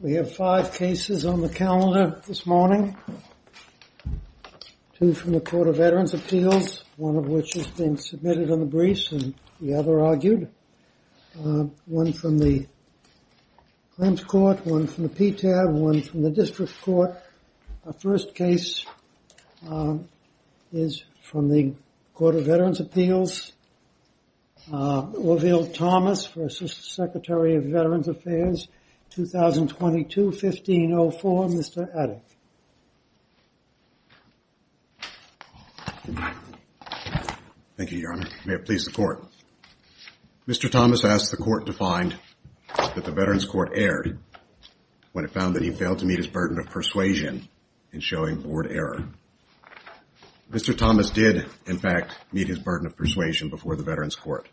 We have five cases on the calendar this morning. Two from the Court of Veterans' Appeals, one of which has been submitted on the briefs and the other argued. One from the Clems Court, one from the PTAB, one from the District Court. Our first case is from the Court of Veterans' Appeals. Orville Thomas for Secretary of Veterans Affairs, 2022-1504. Mr. Adick. Thank you, Your Honor. May it please the Court. Mr. Thomas asked the Court to find that the Veterans' Court erred when it found that he failed to meet his burden of persuasion in showing board error. Mr. Thomas did, in fact, meet his burden of persuasion before the Veterans' Court.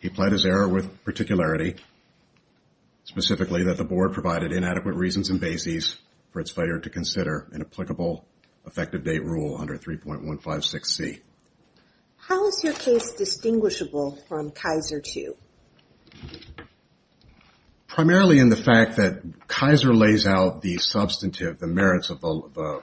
He pled his error with particularity, specifically that the board provided inadequate reasons and bases for its failure to consider an applicable effective date rule under 3.156C. How is your case distinguishable from Kaiser II? Primarily in the fact that Kaiser lays out the substantive, the merits of the law.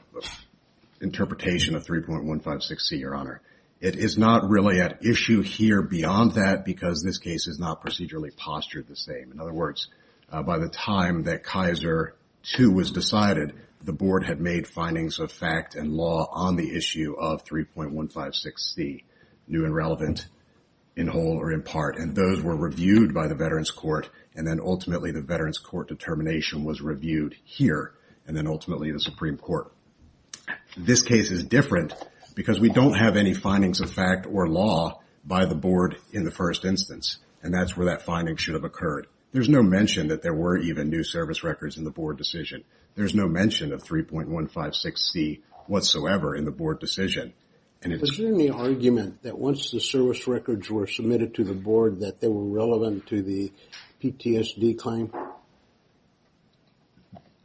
It is not really at issue here beyond that because this case is not procedurally postured the same. In other words, by the time that Kaiser II was decided, the board had made findings of fact and law on the issue of 3.156C, new and relevant, in whole or in part. And those were reviewed by the Veterans' Court, and then ultimately the Veterans' Court determination was reviewed here, and then ultimately the Supreme Court. This case is different because we don't have any findings of fact or law by the board in the first instance, and that's where that finding should have occurred. There's no mention that there were even new service records in the board decision. There's no mention of 3.156C whatsoever in the board decision. Was there any argument that once the service records were submitted to the board that they were relevant to the PTSD claim?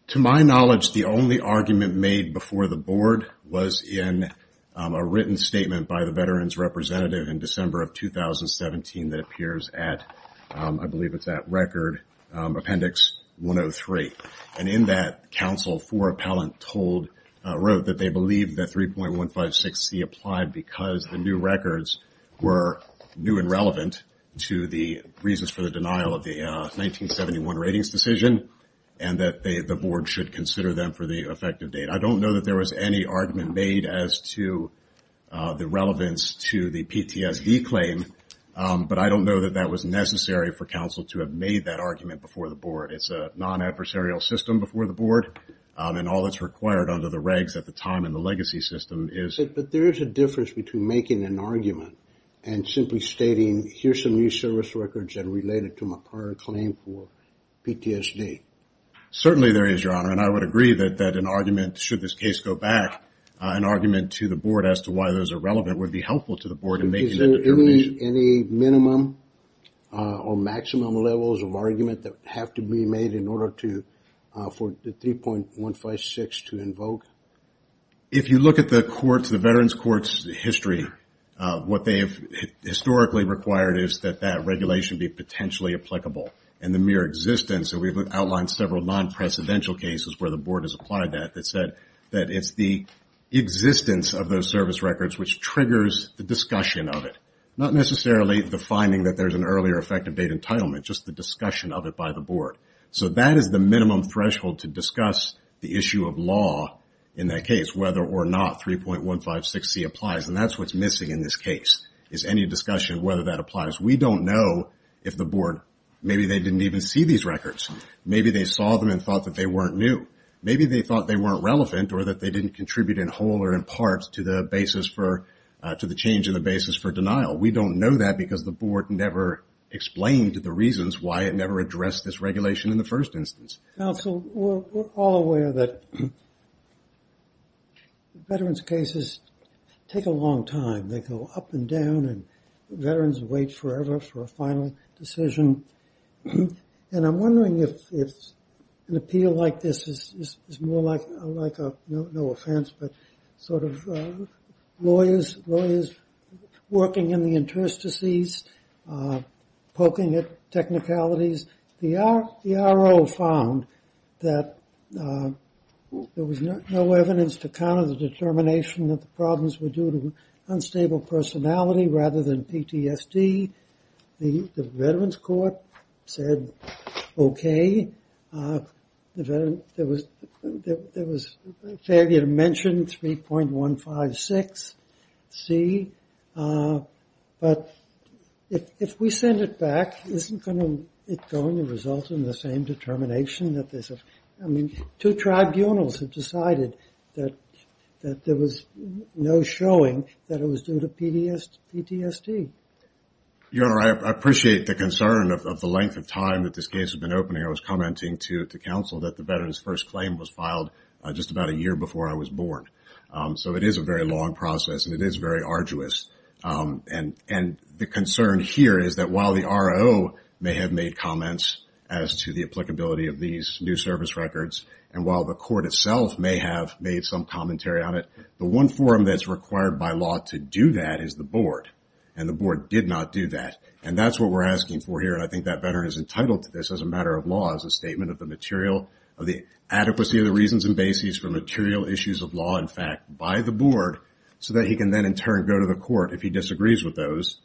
To my knowledge, the only argument made before the board was in a written statement by the Veterans' Representative in December of 2017 that appears at, I believe it's at Record Appendix 103. And in that, counsel for appellant wrote that they believed that 3.156C applied because the new records were new and relevant to the reasons for the denial of the 1971 records. And that the board should consider them for the effective date. I don't know that there was any argument made as to the relevance to the PTSD claim, but I don't know that that was necessary for counsel to have made that argument before the board. It's a non-adversarial system before the board, and all that's required under the regs at the time in the legacy system is... But there is a difference between making an argument and simply stating, here's some new service records that are related to my prior claim for PTSD. Certainly there is, Your Honor, and I would agree that an argument, should this case go back, an argument to the board as to why those are relevant would be helpful to the board in making that determination. Is there any minimum or maximum levels of argument that have to be made in order to, for the 3.156 to invoke? If you look at the courts, the Veterans' Courts history, what they have historically required is that that regulation be potentially applicable. And the mere existence, and we've outlined several non-precedential cases where the board has applied that, that said that it's the existence of those service records which triggers the discussion of it. Not necessarily the finding that there's an earlier effective date entitlement, just the discussion of it by the board. So that is the minimum threshold to discuss the issue of law in that case, whether or not 3.156C applies. And that's what's missing in this case, is any discussion of whether that applies. Maybe they didn't even see these records. Maybe they saw them and thought that they weren't new. Maybe they thought they weren't relevant or that they didn't contribute in whole or in part to the basis for, to the change in the basis for denial. We don't know that because the board never explained the reasons why it never addressed this regulation in the first instance. Counsel, we're all aware that Veterans' cases take a long time. They go up and down, and Veterans wait forever for a final decision. And I'm wondering if an appeal like this is more like, like a, no offense, but sort of lawyers, lawyers working in the interstices, poking at technicalities. The RO found that there was no evidence to counter the determination that the problems were due to unstateable circumstances. Unstateable personality rather than PTSD. The Veterans' Court said, OK. There was failure to mention 3.156C. But if we send it back, isn't it going to result in the same determination that there's a, I mean, two tribunals have decided that there was no showing that it was due to unstateable circumstances. It was due to PTSD. Your Honor, I appreciate the concern of the length of time that this case has been opening. I was commenting to counsel that the Veterans' first claim was filed just about a year before I was born. So it is a very long process, and it is very arduous. And the concern here is that while the RO may have made comments as to the applicability of these new service records, and while the court itself may have made some commentary on it, the one forum that's required by law to do that is the board, and the board did not do that. And that's what we're asking for here, and I think that veteran is entitled to this as a matter of law, as a statement of the material, of the adequacy of the reasons and bases for material issues of law, in fact, by the board, so that he can then in turn go to the court if he disagrees with those,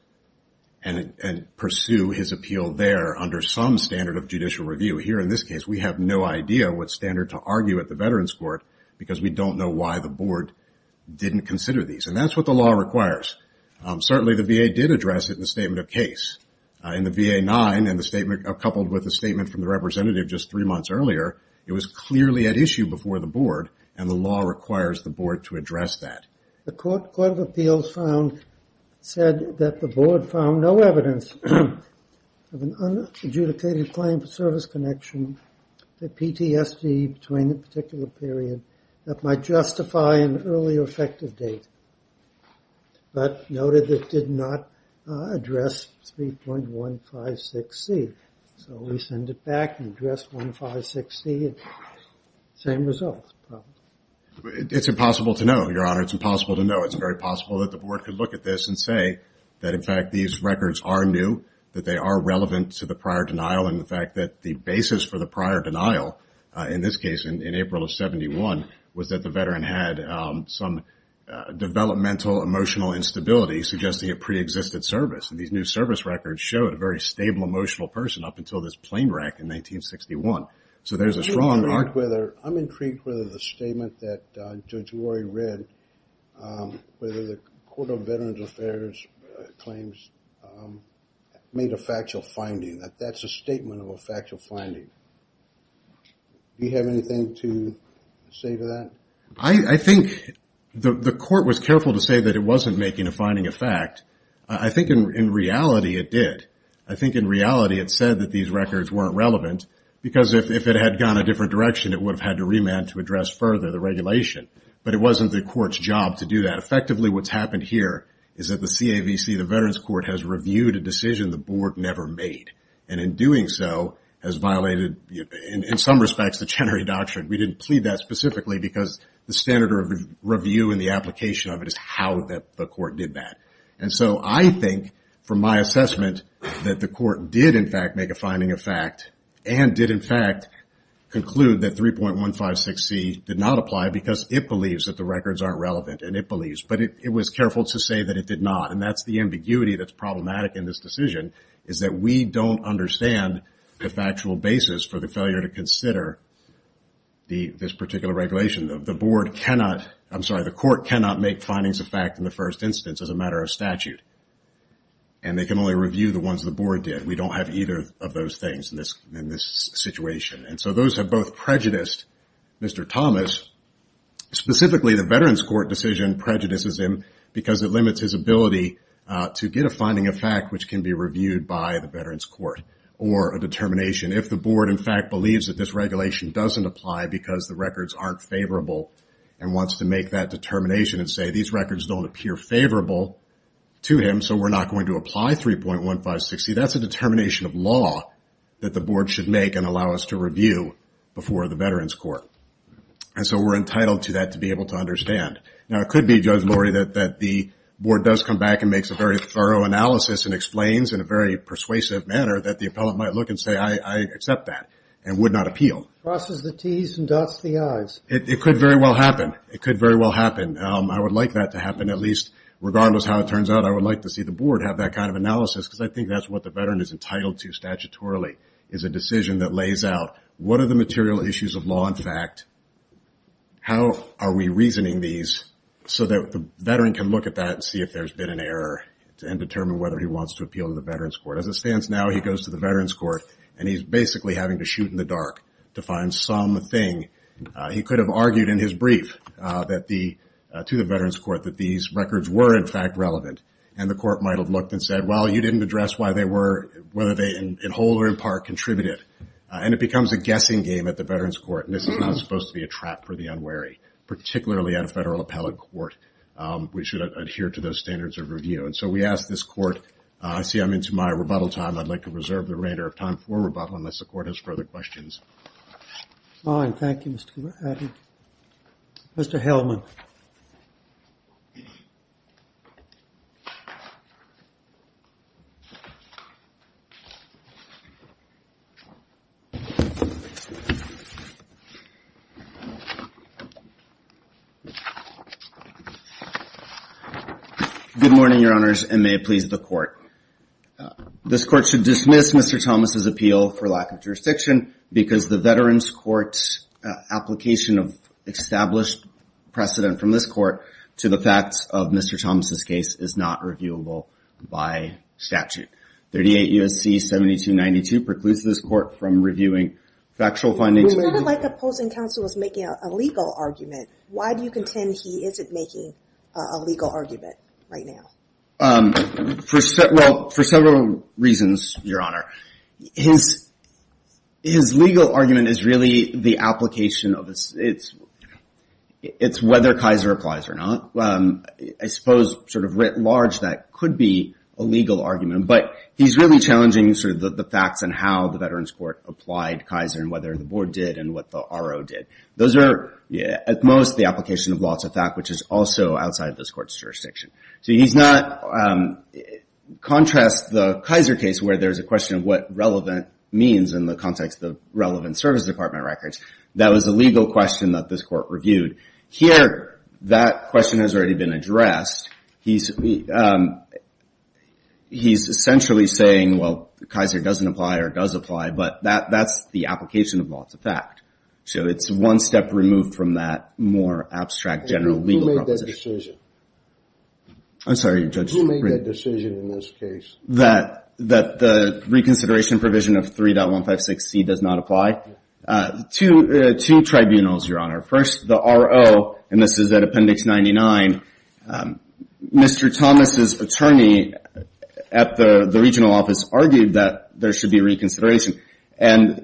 and pursue his appeal there under some standard of judicial review. Here in this case, we have no idea what standard to argue at the Veterans' Court, because we don't know why the board didn't consider these. And that's what the law requires. Certainly, the VA did address it in the statement of case. In the VA-9, coupled with a statement from the representative just three months earlier, it was clearly at issue before the board, and the law requires the board to address that. The Court of Appeals found, said that the board found no evidence of an unadjudicated claim for service connection to PTSD between a particular period that might justify an earlier effective date, but noted it did not address 3.156C. So we send it back and address 3.156C, and same results. It's impossible to know, Your Honor. It's impossible to know. It's very possible that the board could look at this and say that, in fact, these records are new, that they are relevant to the prior denial, and the fact that the basis for the prior denial, in this case, in April of 71, was that the veteran had some developmental emotional instability, suggesting a preexisted service. And these new service records showed a very stable emotional person up until this plane wreck in 1961. So there's a strong arc. I'm intrigued whether the statement that Judge Rory read, whether the Court of Veterans Affairs claims made a factual finding. That that's a statement of a factual finding. Do you have anything to say to that? I think the Court was careful to say that it wasn't making a finding of fact. I think, in reality, it did. I think, in reality, it said that these records weren't relevant, because if it had gone a different direction, it would have had to remand to address further the regulation. But it wasn't the court's job to do that. Effectively, what's happened here is that the CAVC, the Veterans Court, has reviewed a decision the board never made. And in doing so, has violated, in some respects, the Chenery Doctrine. We didn't plead that specifically, because the standard of review and the application of it is how the court did that. And so I think, from my assessment, that the court did, in fact, make a finding of fact, and did, in fact, conclude that 3.156C did not apply, because it believes that the records aren't relevant, and it believes. But it was careful to say that it did not, and that's the ambiguity that's problematic in this decision, is that we don't understand the factual basis for the failure to consider this particular regulation. The board cannot, I'm sorry, the court cannot make findings of fact in the first instance as a matter of statute. And they can only review the ones the board did. We don't have either of those things in this situation. And so those have both prejudiced Mr. Thomas. Specifically, the Veterans Court decision prejudices him, because it limits his ability to get a finding of fact, which can be reviewed by the Veterans Court, or a determination. If the board, in fact, believes that this regulation doesn't apply, because the records aren't favorable, and wants to make that determination and say, these records don't appear favorable to him, so we're not going to apply 3.156C, that's a determination of law that the board should make and allow us to review before the Veterans Court. And so we're entitled to that, to be able to understand. Now, it could be, Judge Laurie, that the board does come back and makes a very thorough analysis and explains in a very persuasive manner that the appellant might look and say, I accept that, and would not appeal. It could very well happen. I would like that to happen, at least, regardless how it turns out, I would like to see the board have that kind of analysis, because I think that's what the veteran is entitled to statutorily, is a decision that lays out, what are the material issues of law and fact, how are we reasoning these, so that the veteran can look at that and see if there's been an error, and determine whether he wants to appeal to the Veterans Court. As it stands now, he goes to the Veterans Court, and he's basically having to shoot in the dark to find some thing. He could have argued in his brief to the Veterans Court that these records were, in fact, relevant, and the court might have looked and said, well, you didn't address why they were, whether they in whole or in part, contributed. And it becomes a guessing game at the Veterans Court, and this is not supposed to be a trap for the unwary, particularly at a federal appellate court, which should adhere to those standards of review. And so we ask this court, I see I'm into my rebuttal time. I'd like to reserve the remainder of time for rebuttal, unless the court has further questions. Fine, thank you, Mr. Helman. Good morning, your honors, and may it please the court. This court should dismiss Mr. Thomas' appeal for lack of jurisdiction, because the Veterans Court's application of established precedent from this court to the facts of Mr. Thomas' case is not reviewable by statute. 38 U.S.C. 7292 precludes this court from reviewing factual findings. It sounded like opposing counsel was making a legal argument. Why do you contend he isn't making a legal argument right now? Well, for several reasons, your honor. His legal argument is really the application of this. It's whether Kaiser applies or not. I suppose sort of writ large, that could be a legal argument, but he's really challenging sort of the facts and how the Veterans Court applied Kaiser and whether the board did and what the RO did. Those are, at most, the application of lots of fact, which is also outside this court's jurisdiction. So he's not, contrast the Kaiser case where there's a question of what relevant means in the context of relevant service department records. That was a legal question that this court reviewed. Here, that question has already been addressed. He's essentially saying, well, Kaiser doesn't apply or does apply, but that's the application of lots of fact. So it's one step removed from that more abstract general legal proposition. Who made that decision in this case? That the reconsideration provision of 3.156C does not apply? Two tribunals, your honor. First, the RO, and this is at Appendix 99. Mr. Thomas's attorney at the regional office argued that there should be reconsideration, and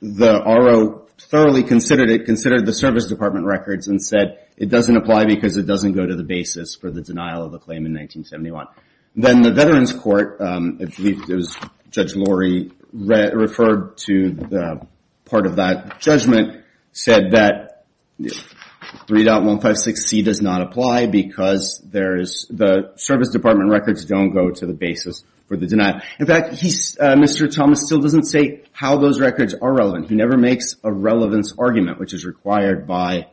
the RO thoroughly considered it, considered the service department records and said it doesn't apply because it doesn't go to the basis for the denial of the claim in 1971. Then the Veterans Court, I believe it was Judge Lori referred to part of that judgment, said that 3.156C does not apply because the service department records don't go to the basis for the denial. In fact, Mr. Thomas still doesn't say how those records are relevant. He never makes a relevance argument, which is required by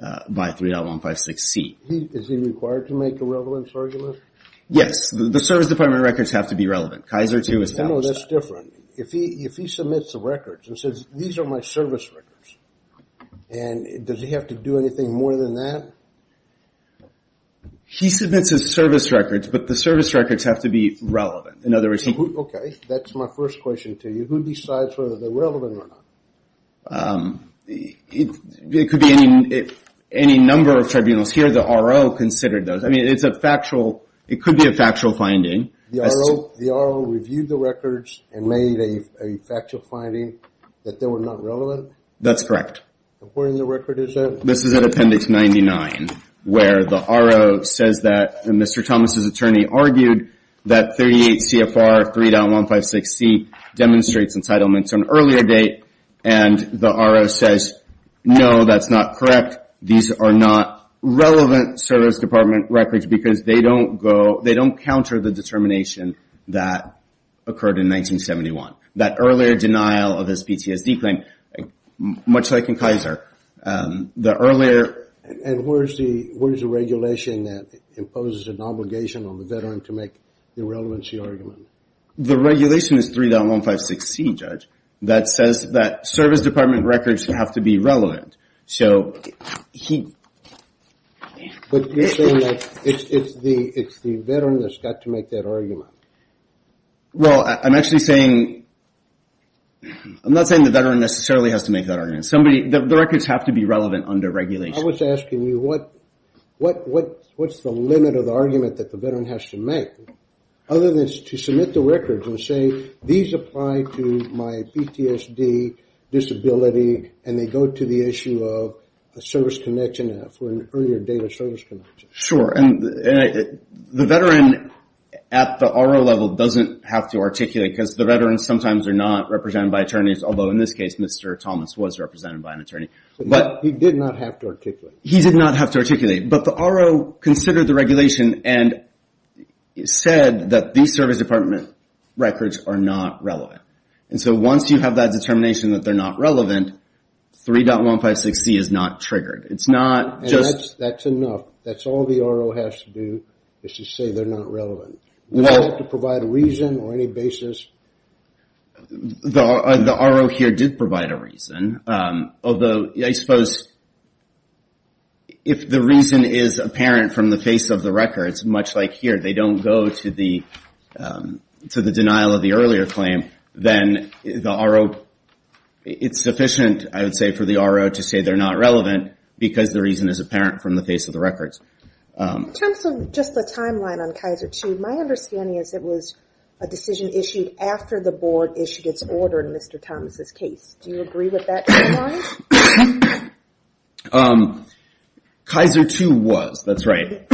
3.156C. Is he required to make a relevance argument? Yes, the service department records have to be relevant. No, that's different. If he submits the records and says these are my service records, does he have to do anything more than that? He submits his service records, but the service records have to be relevant. Okay, that's my first question to you. Who decides whether they're relevant or not? It could be any number of tribunals. Here the RO considered those. It could be a factual finding. The RO reviewed the records and made a factual finding that they were not relevant? That's correct. This is at Appendix 99, where the RO says that Mr. Thomas' attorney argued that 38 CFR 3.156C demonstrates entitlements on earlier date, and the RO says, no, that's not correct. These are not relevant service department records because they don't go, they don't counter the determination that occurred in 1971. That earlier denial of his PTSD claim, much like in Kaiser. And where's the regulation that imposes an obligation on the veteran to make the relevancy argument? The regulation is 3.156C, Judge, that says that service department records have to be relevant. But you're saying that it's the veteran that's got to make that argument. Well, I'm actually saying, I'm not saying the veteran necessarily has to make that argument. The records have to be relevant under regulation. I was asking you, what's the limit of the argument that the veteran has to make? Other than to submit the records and say, these apply to my PTSD disability, and they go to the issue of a service connection for an earlier date of service connection. Sure, and the veteran at the RO level doesn't have to articulate because the veterans sometimes are not represented by attorneys. Although in this case, Mr. Thomas was represented by an attorney. But he did not have to articulate. But the RO considered the regulation and said that these service department records are not relevant. And so once you have that determination that they're not relevant, 3.156C is not triggered. That's enough. That's all the RO has to do is to say they're not relevant. Does that have to provide a reason or any basis? The RO here did provide a reason. Although I suppose if the reason is apparent from the face of the records, much like here, they don't go to the denial of the earlier claim, then it's sufficient, I would say, for the RO to say they're not relevant because the reason is apparent from the face of the records. In terms of just the timeline on Kaiser II, my understanding is it was a decision issued after the board issued its order in Mr. Thomas' case. Do you agree with that timeline? Kaiser II was, that's right.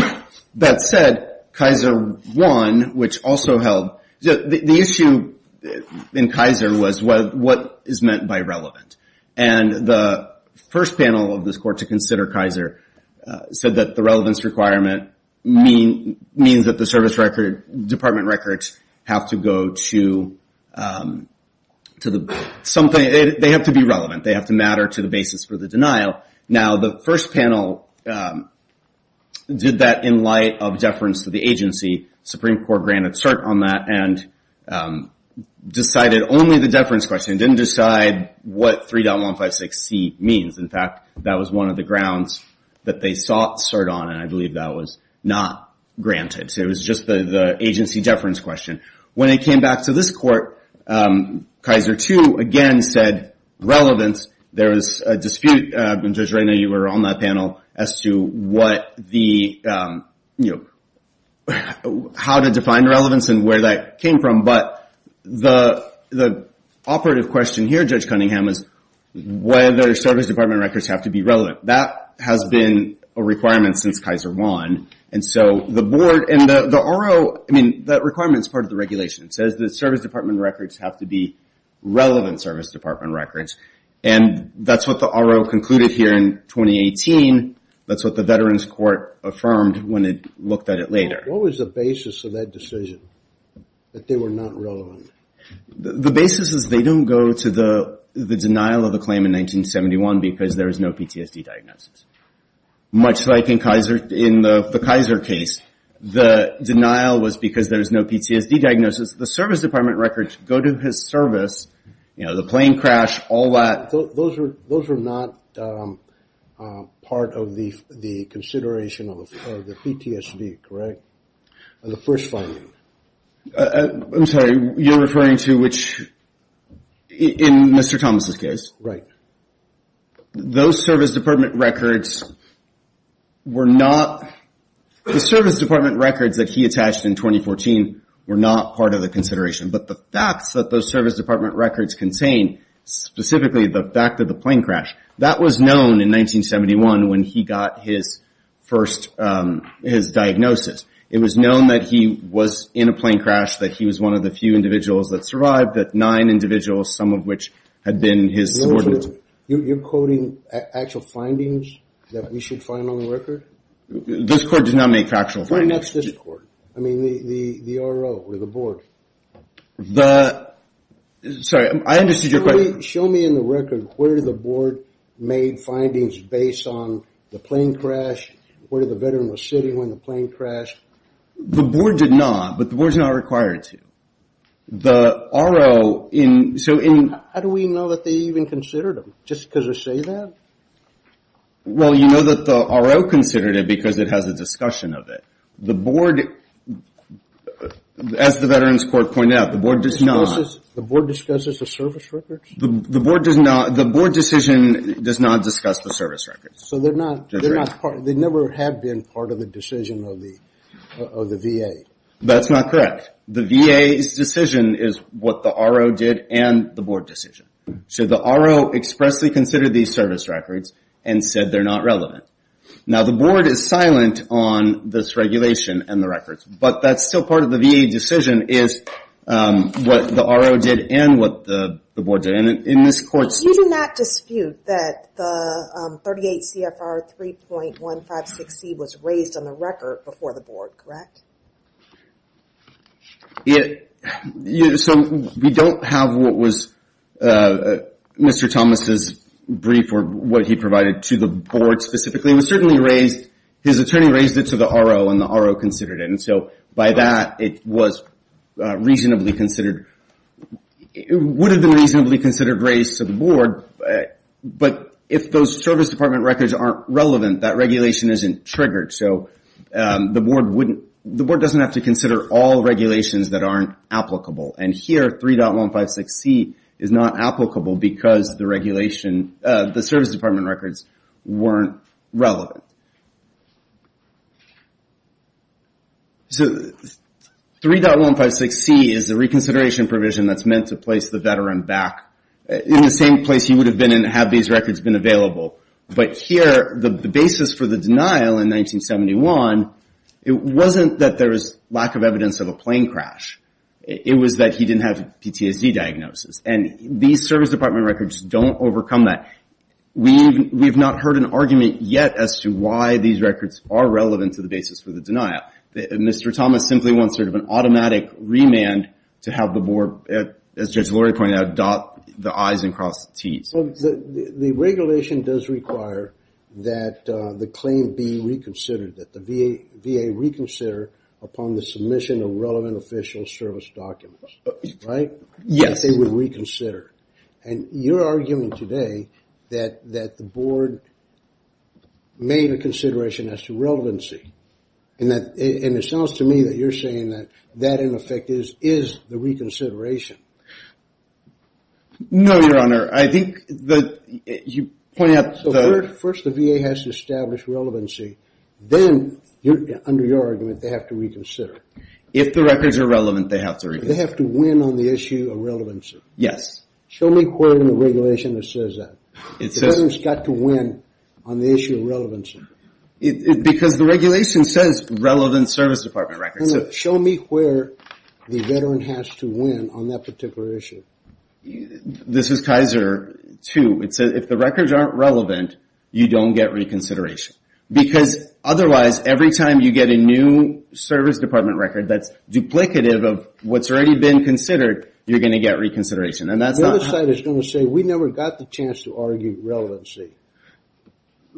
That said, Kaiser I, which also held... The issue in Kaiser was what is meant by relevant. And the first panel of this court to consider Kaiser said that the relevance requirement means that the service department records have to go to... They have to be relevant. They have to matter to the basis for the denial. Now, the first panel did that in light of deference to the agency. Supreme Court granted cert on that and decided only the deference question. It didn't decide what 3.156C means. In fact, that was one of the grounds that they sought cert on, and I believe that was not granted. It was just the agency deference question. When it came back to this court, Kaiser II again said relevance. There was a dispute, and Judge Reyna, you were on that panel, as to what the... How to define relevance and where that came from. But the operative question here, Judge Cunningham, is whether service department records have to be relevant. That has been a requirement since Kaiser I. The RO, that requirement is part of the regulation. It says the service department records have to be relevant service department records, and that's what the RO concluded here in 2018. That's what the Veterans Court affirmed when it looked at it later. What was the basis of that decision, that they were not relevant? The basis is they don't go to the denial of the claim in 1971 because there is no PTSD diagnosis. Much like in the Kaiser case, the denial was because there is no PTSD diagnosis. The service department records go to his service, the plane crash, all that. Those are not part of the consideration of the PTSD, correct? The first finding. I'm sorry, you're referring to which, in Mr. Thomas' case? Right. Those service department records were not, the service department records that he attached in 2014 were not part of the consideration. But the facts that those service department records contain, specifically the fact of the plane crash, that was known in 1971 when he got his first diagnosis. It was known that he was in a plane crash, that he was one of the few individuals that survived, that nine individuals, some of which had been his subordinates. You're quoting actual findings that we should find on the record? This court does not make factual findings. I mean, the RO, or the board. Sorry, I understood your question. Show me in the record where the board made findings based on the plane crash, where the veteran was sitting when the plane crashed. The board did not, but the board is not required to. How do we know that they even considered him, just because they say that? Well, you know that the RO considered him because it has a discussion of it. The board, as the Veterans Court pointed out, the board does not. The board discusses the service records? The board decision does not discuss the service records. So they never have been part of the decision of the VA? That's not correct. The VA's decision is what the RO did and the board decision. So the RO expressly considered these service records and said they're not relevant. Now the board is silent on this regulation and the records, but that's still part of the VA decision, is what the RO did and what the board did. You do not dispute that the 38 CFR 3.156C was raised on the record before the board, correct? So we don't have what was Mr. Thomas' brief or what he provided to the board specifically. It was certainly raised, his attorney raised it to the RO and the RO considered it. And so by that it was reasonably considered, it would have been reasonably considered raised to the board, but if those service department records aren't relevant, that regulation isn't triggered. So the board doesn't have to consider all regulations that aren't applicable. And here 3.156C is not applicable because the service department records weren't relevant. So 3.156C is the reconsideration provision that's meant to place the veteran back in the same place he would have been and have these records been available. But here the basis for the denial in 1971, it wasn't that there was lack of evidence of a plane crash, it was that he didn't have PTSD diagnosis. And these service department records don't overcome that. We've not heard an argument yet as to why these records are relevant to the basis for the denial. Mr. Thomas simply wants sort of an automatic remand to have the board, as Judge Lori pointed out, dot the I's and cross the T's. The regulation does require that the claim be reconsidered, that the VA reconsider upon the submission of relevant official service documents, right? Yes. And you're arguing today that the board made a consideration as to relevancy. And it sounds to me that you're saying that that in effect is the reconsideration. No, Your Honor. First the VA has to establish relevancy. Then, under your argument, they have to reconsider. If the records are relevant, they have to reconsider. They have to win on the issue of relevancy. Because the regulation says relevant service department records. Show me where the veteran has to win on that particular issue. This is Kaiser 2. It says if the records aren't relevant, you don't get reconsideration. Because otherwise, every time you get a new service department record that's duplicative of what's already been considered, you're going to get reconsideration. The other side is going to say we never got the chance to argue relevancy.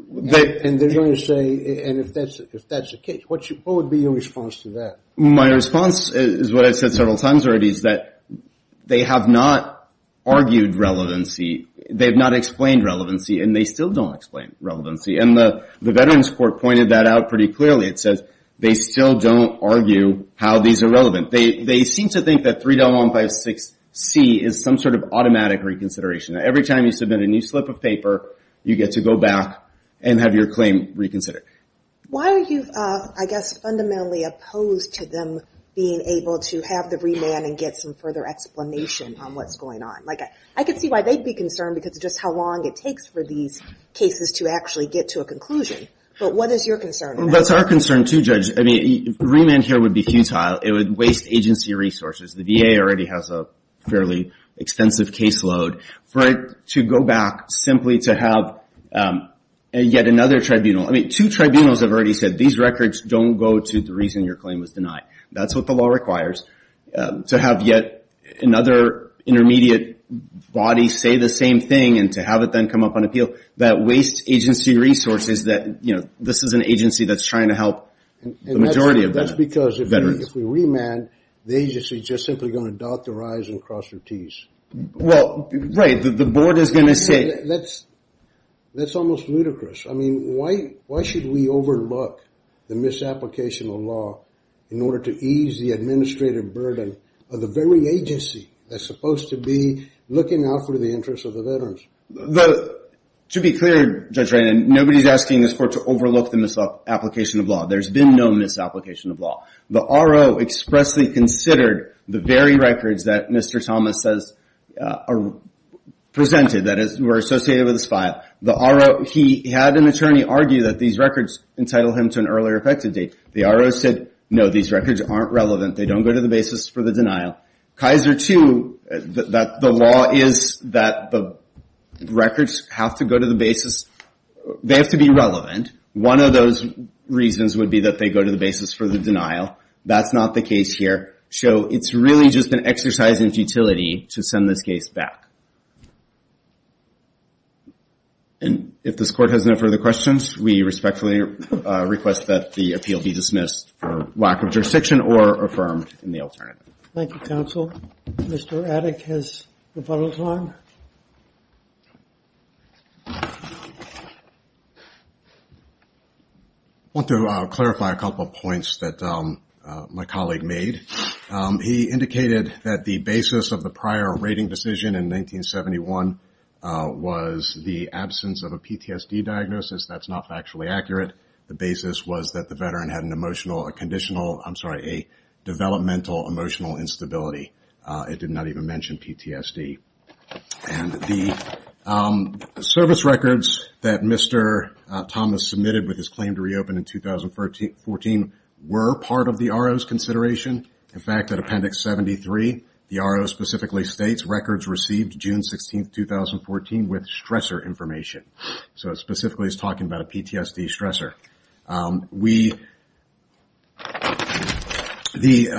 And they're going to say, and if that's the case, what would be your response to that? My response is what I've said several times already is that they have not argued relevancy. They have not explained relevancy, and they still don't explain relevancy. And the Veterans Court pointed that out pretty clearly. It says they still don't argue how these are relevant. They seem to think that 3.156C is some sort of automatic reconsideration. Every time you submit a new slip of paper, you get to go back and have your claim reconsidered. Why are you, I guess, fundamentally opposed to them being able to have the remand and get some further explanation on what's going on? I could see why they'd be concerned, because of just how long it takes for these cases to actually get to a conclusion. But what is your concern? That's our concern, too, Judge. Remand here would be futile. It would waste agency resources. The VA already has a fairly extensive caseload. Two tribunals have already said these records don't go to the reason your claim was denied. That's what the law requires, to have yet another intermediate body say the same thing and to have it then come up on appeal, that wastes agency resources. This is an agency that's trying to help the majority of veterans. That's because if we remand, the agency is just simply going to dot their I's and cross their T's. That's almost ludicrous. Why should we overlook the misapplication of law in order to ease the administrative burden of the very agency that's supposed to be looking out for the interests of the veterans? To be clear, Judge Reynon, nobody's asking this court to overlook the misapplication of law. There's been no misapplication of law. The RO expressly considered the very records that Mr. Thomas says are presented, that were associated with this file. He had an attorney argue that these records entitled him to an earlier effective date. The RO said, no, these records aren't relevant. They don't go to the basis for the denial. Kaiser too, the law is that the records have to be relevant. One of those reasons would be that they go to the basis for the denial. That's not the case here. It's really just an exercise in futility to send this case back. If this court has no further questions, we respectfully request that the appeal be dismissed for lack of jurisdiction or affirmed in the alternative. Thank you, counsel. Mr. Addick has the final time. I want to clarify a couple of points that my colleague made. He indicated that the basis of the prior rating decision in 1971 was the absence of a PTSD diagnosis. That's not factually accurate. The basis was that the veteran had a developmental emotional instability. It did not even mention PTSD. The service records that Mr. Thomas submitted with his claim to reopen in 2014 were part of the RO's consideration. In fact, at Appendix 73, the RO specifically states, records received June 16, 2014 with stressor information. Specifically, he's talking about a PTSD stressor. The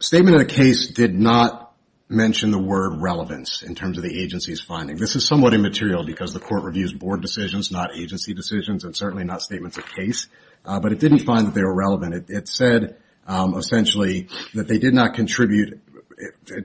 statement of the case did not mention the word relevance in terms of the agency's finding. This is somewhat immaterial because the court reviews board decisions, not agency decisions, and certainly not statements of case, but it didn't find that they were relevant. It said, essentially, that they did not contribute,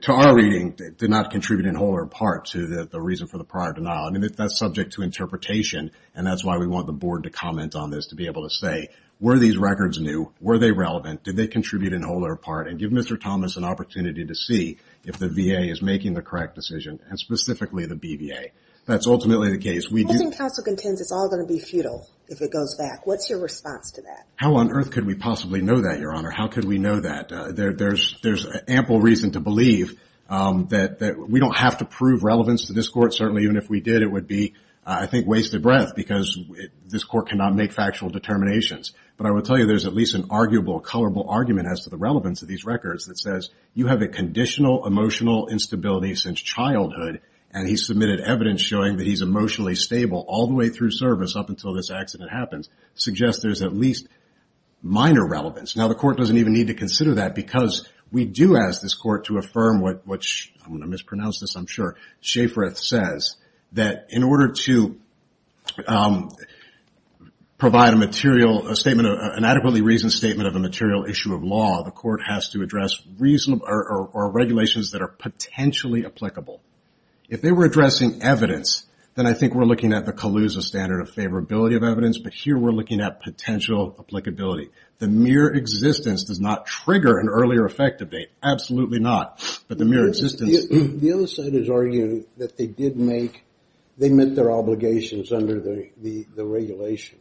to our reading, did not contribute in whole or part to the reason for the prior denial. That's subject to interpretation, and that's why we want the board to comment on this to be able to say, were these records new? Were they relevant? Did they contribute in whole or part? And give Mr. Thomas an opportunity to see if the VA is making the correct decision, and specifically the BVA. That's ultimately the case. How on earth could we possibly know that, Your Honor? There's ample reason to believe that we don't have to prove relevance to this court. Certainly, even if we did, it would be, I think, wasted breath because this court cannot make factual determinations. But I will tell you, there's at least an arguable, colorable argument as to the relevance of these records that says, you have a conditional emotional instability since childhood, and he submitted evidence showing that he's emotionally stable all the way through service up until this accident happens, suggests there's at least minor relevance. Now, the court doesn't even need to consider that because we do ask this court to affirm what, I'm going to mispronounce this, I'm sure, Schafer says, that in order to provide a material statement, an adequately reasoned statement of a material issue of law, the court has to address reasonable, or regulations that are potentially applicable. If they were addressing evidence, then I think we're looking at the Calusa standard of favorability of evidence, but here we're looking at potential applicability. The mere existence does not trigger an earlier effect of date. Absolutely not. But the mere existence... The other side is arguing that they did make, they met their obligations under the regulation.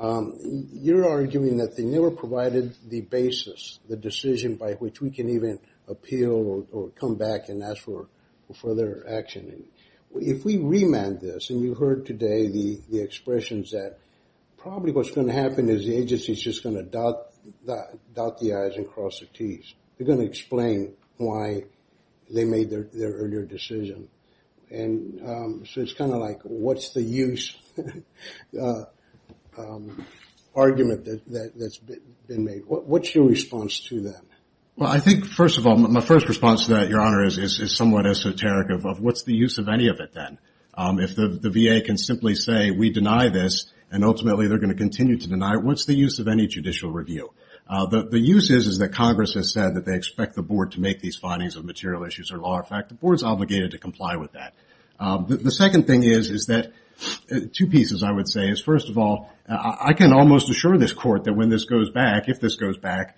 You're arguing that they never provided the basis, the decision by which we can even appeal, or come back and ask for further action. If we remand this, and you heard today the expressions that probably what's going to happen is the agency's just going to dot the I's and cross the T's. They're going to explain why they made their earlier decision. And so it's kind of like, what's the use argument that's been made? What's your response to that? Well, I think, first of all, my first response to that, Your Honor, is somewhat esoteric of, what's the use of any of it then? If the VA can simply say, we deny this, and ultimately they're going to continue to deny it, what's the use of any judicial review? The use is that Congress has said that they expect the Board to make these findings of material issues of law. In fact, the Board's obligated to comply with that. The second thing is that, two pieces, I would say, is, first of all, I can almost assure this Court that when this goes back, if this goes back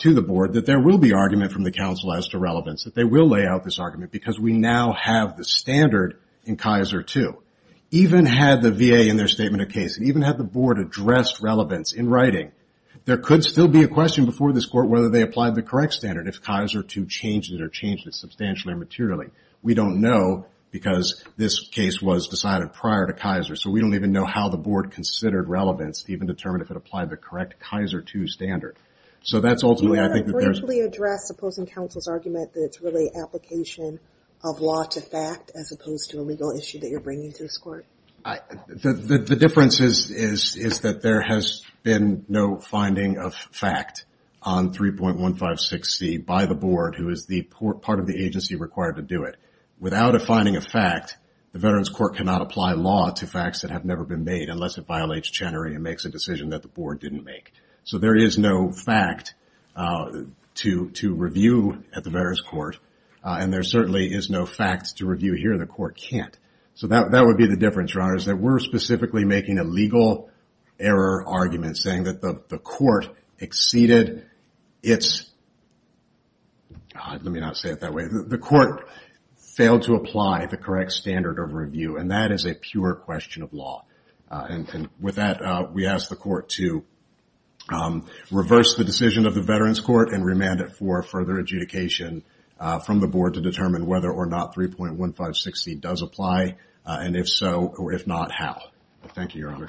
to the Board, that there will be argument from the counsel as to relevance, that they will lay out this argument, because we now have the standard in Kaiser II. Even had the VA in their statement of case, and even had the Board addressed relevance in writing, there could still be a question before this Court whether they applied the correct standard, if Kaiser II changed it, or changed it substantially or materially. We don't know, because this case was decided prior to Kaiser, so we don't even know how the Board considered relevance to even determine if it applied the correct Kaiser II standard. So that's ultimately, I think that there's... You haven't briefly addressed opposing counsel's argument that it's really application of law to fact, as opposed to a legal issue that you're bringing to this Court. The difference is that there has been no finding of fact on 3.156C by the Board, who is part of the agency required to do it. Without a finding of fact, the Veterans Court cannot apply law to facts that have never been made, unless it violates Chenery and makes a decision that the Board didn't make. So there is no fact to review at the Veterans Court, and there certainly is no fact to review here the Court can't. So that would be the difference, Your Honors, that we're specifically making a legal error argument, saying that the Court exceeded its... Let me not say it that way. The Court failed to apply the correct standard of review, and that is a pure question of law. And with that, we ask the Court to reverse the decision of the Veterans Court and remand it for further adjudication from the Board to determine whether or not 3.156C does apply, and if so, or if not, how. Thank you, Your Honor.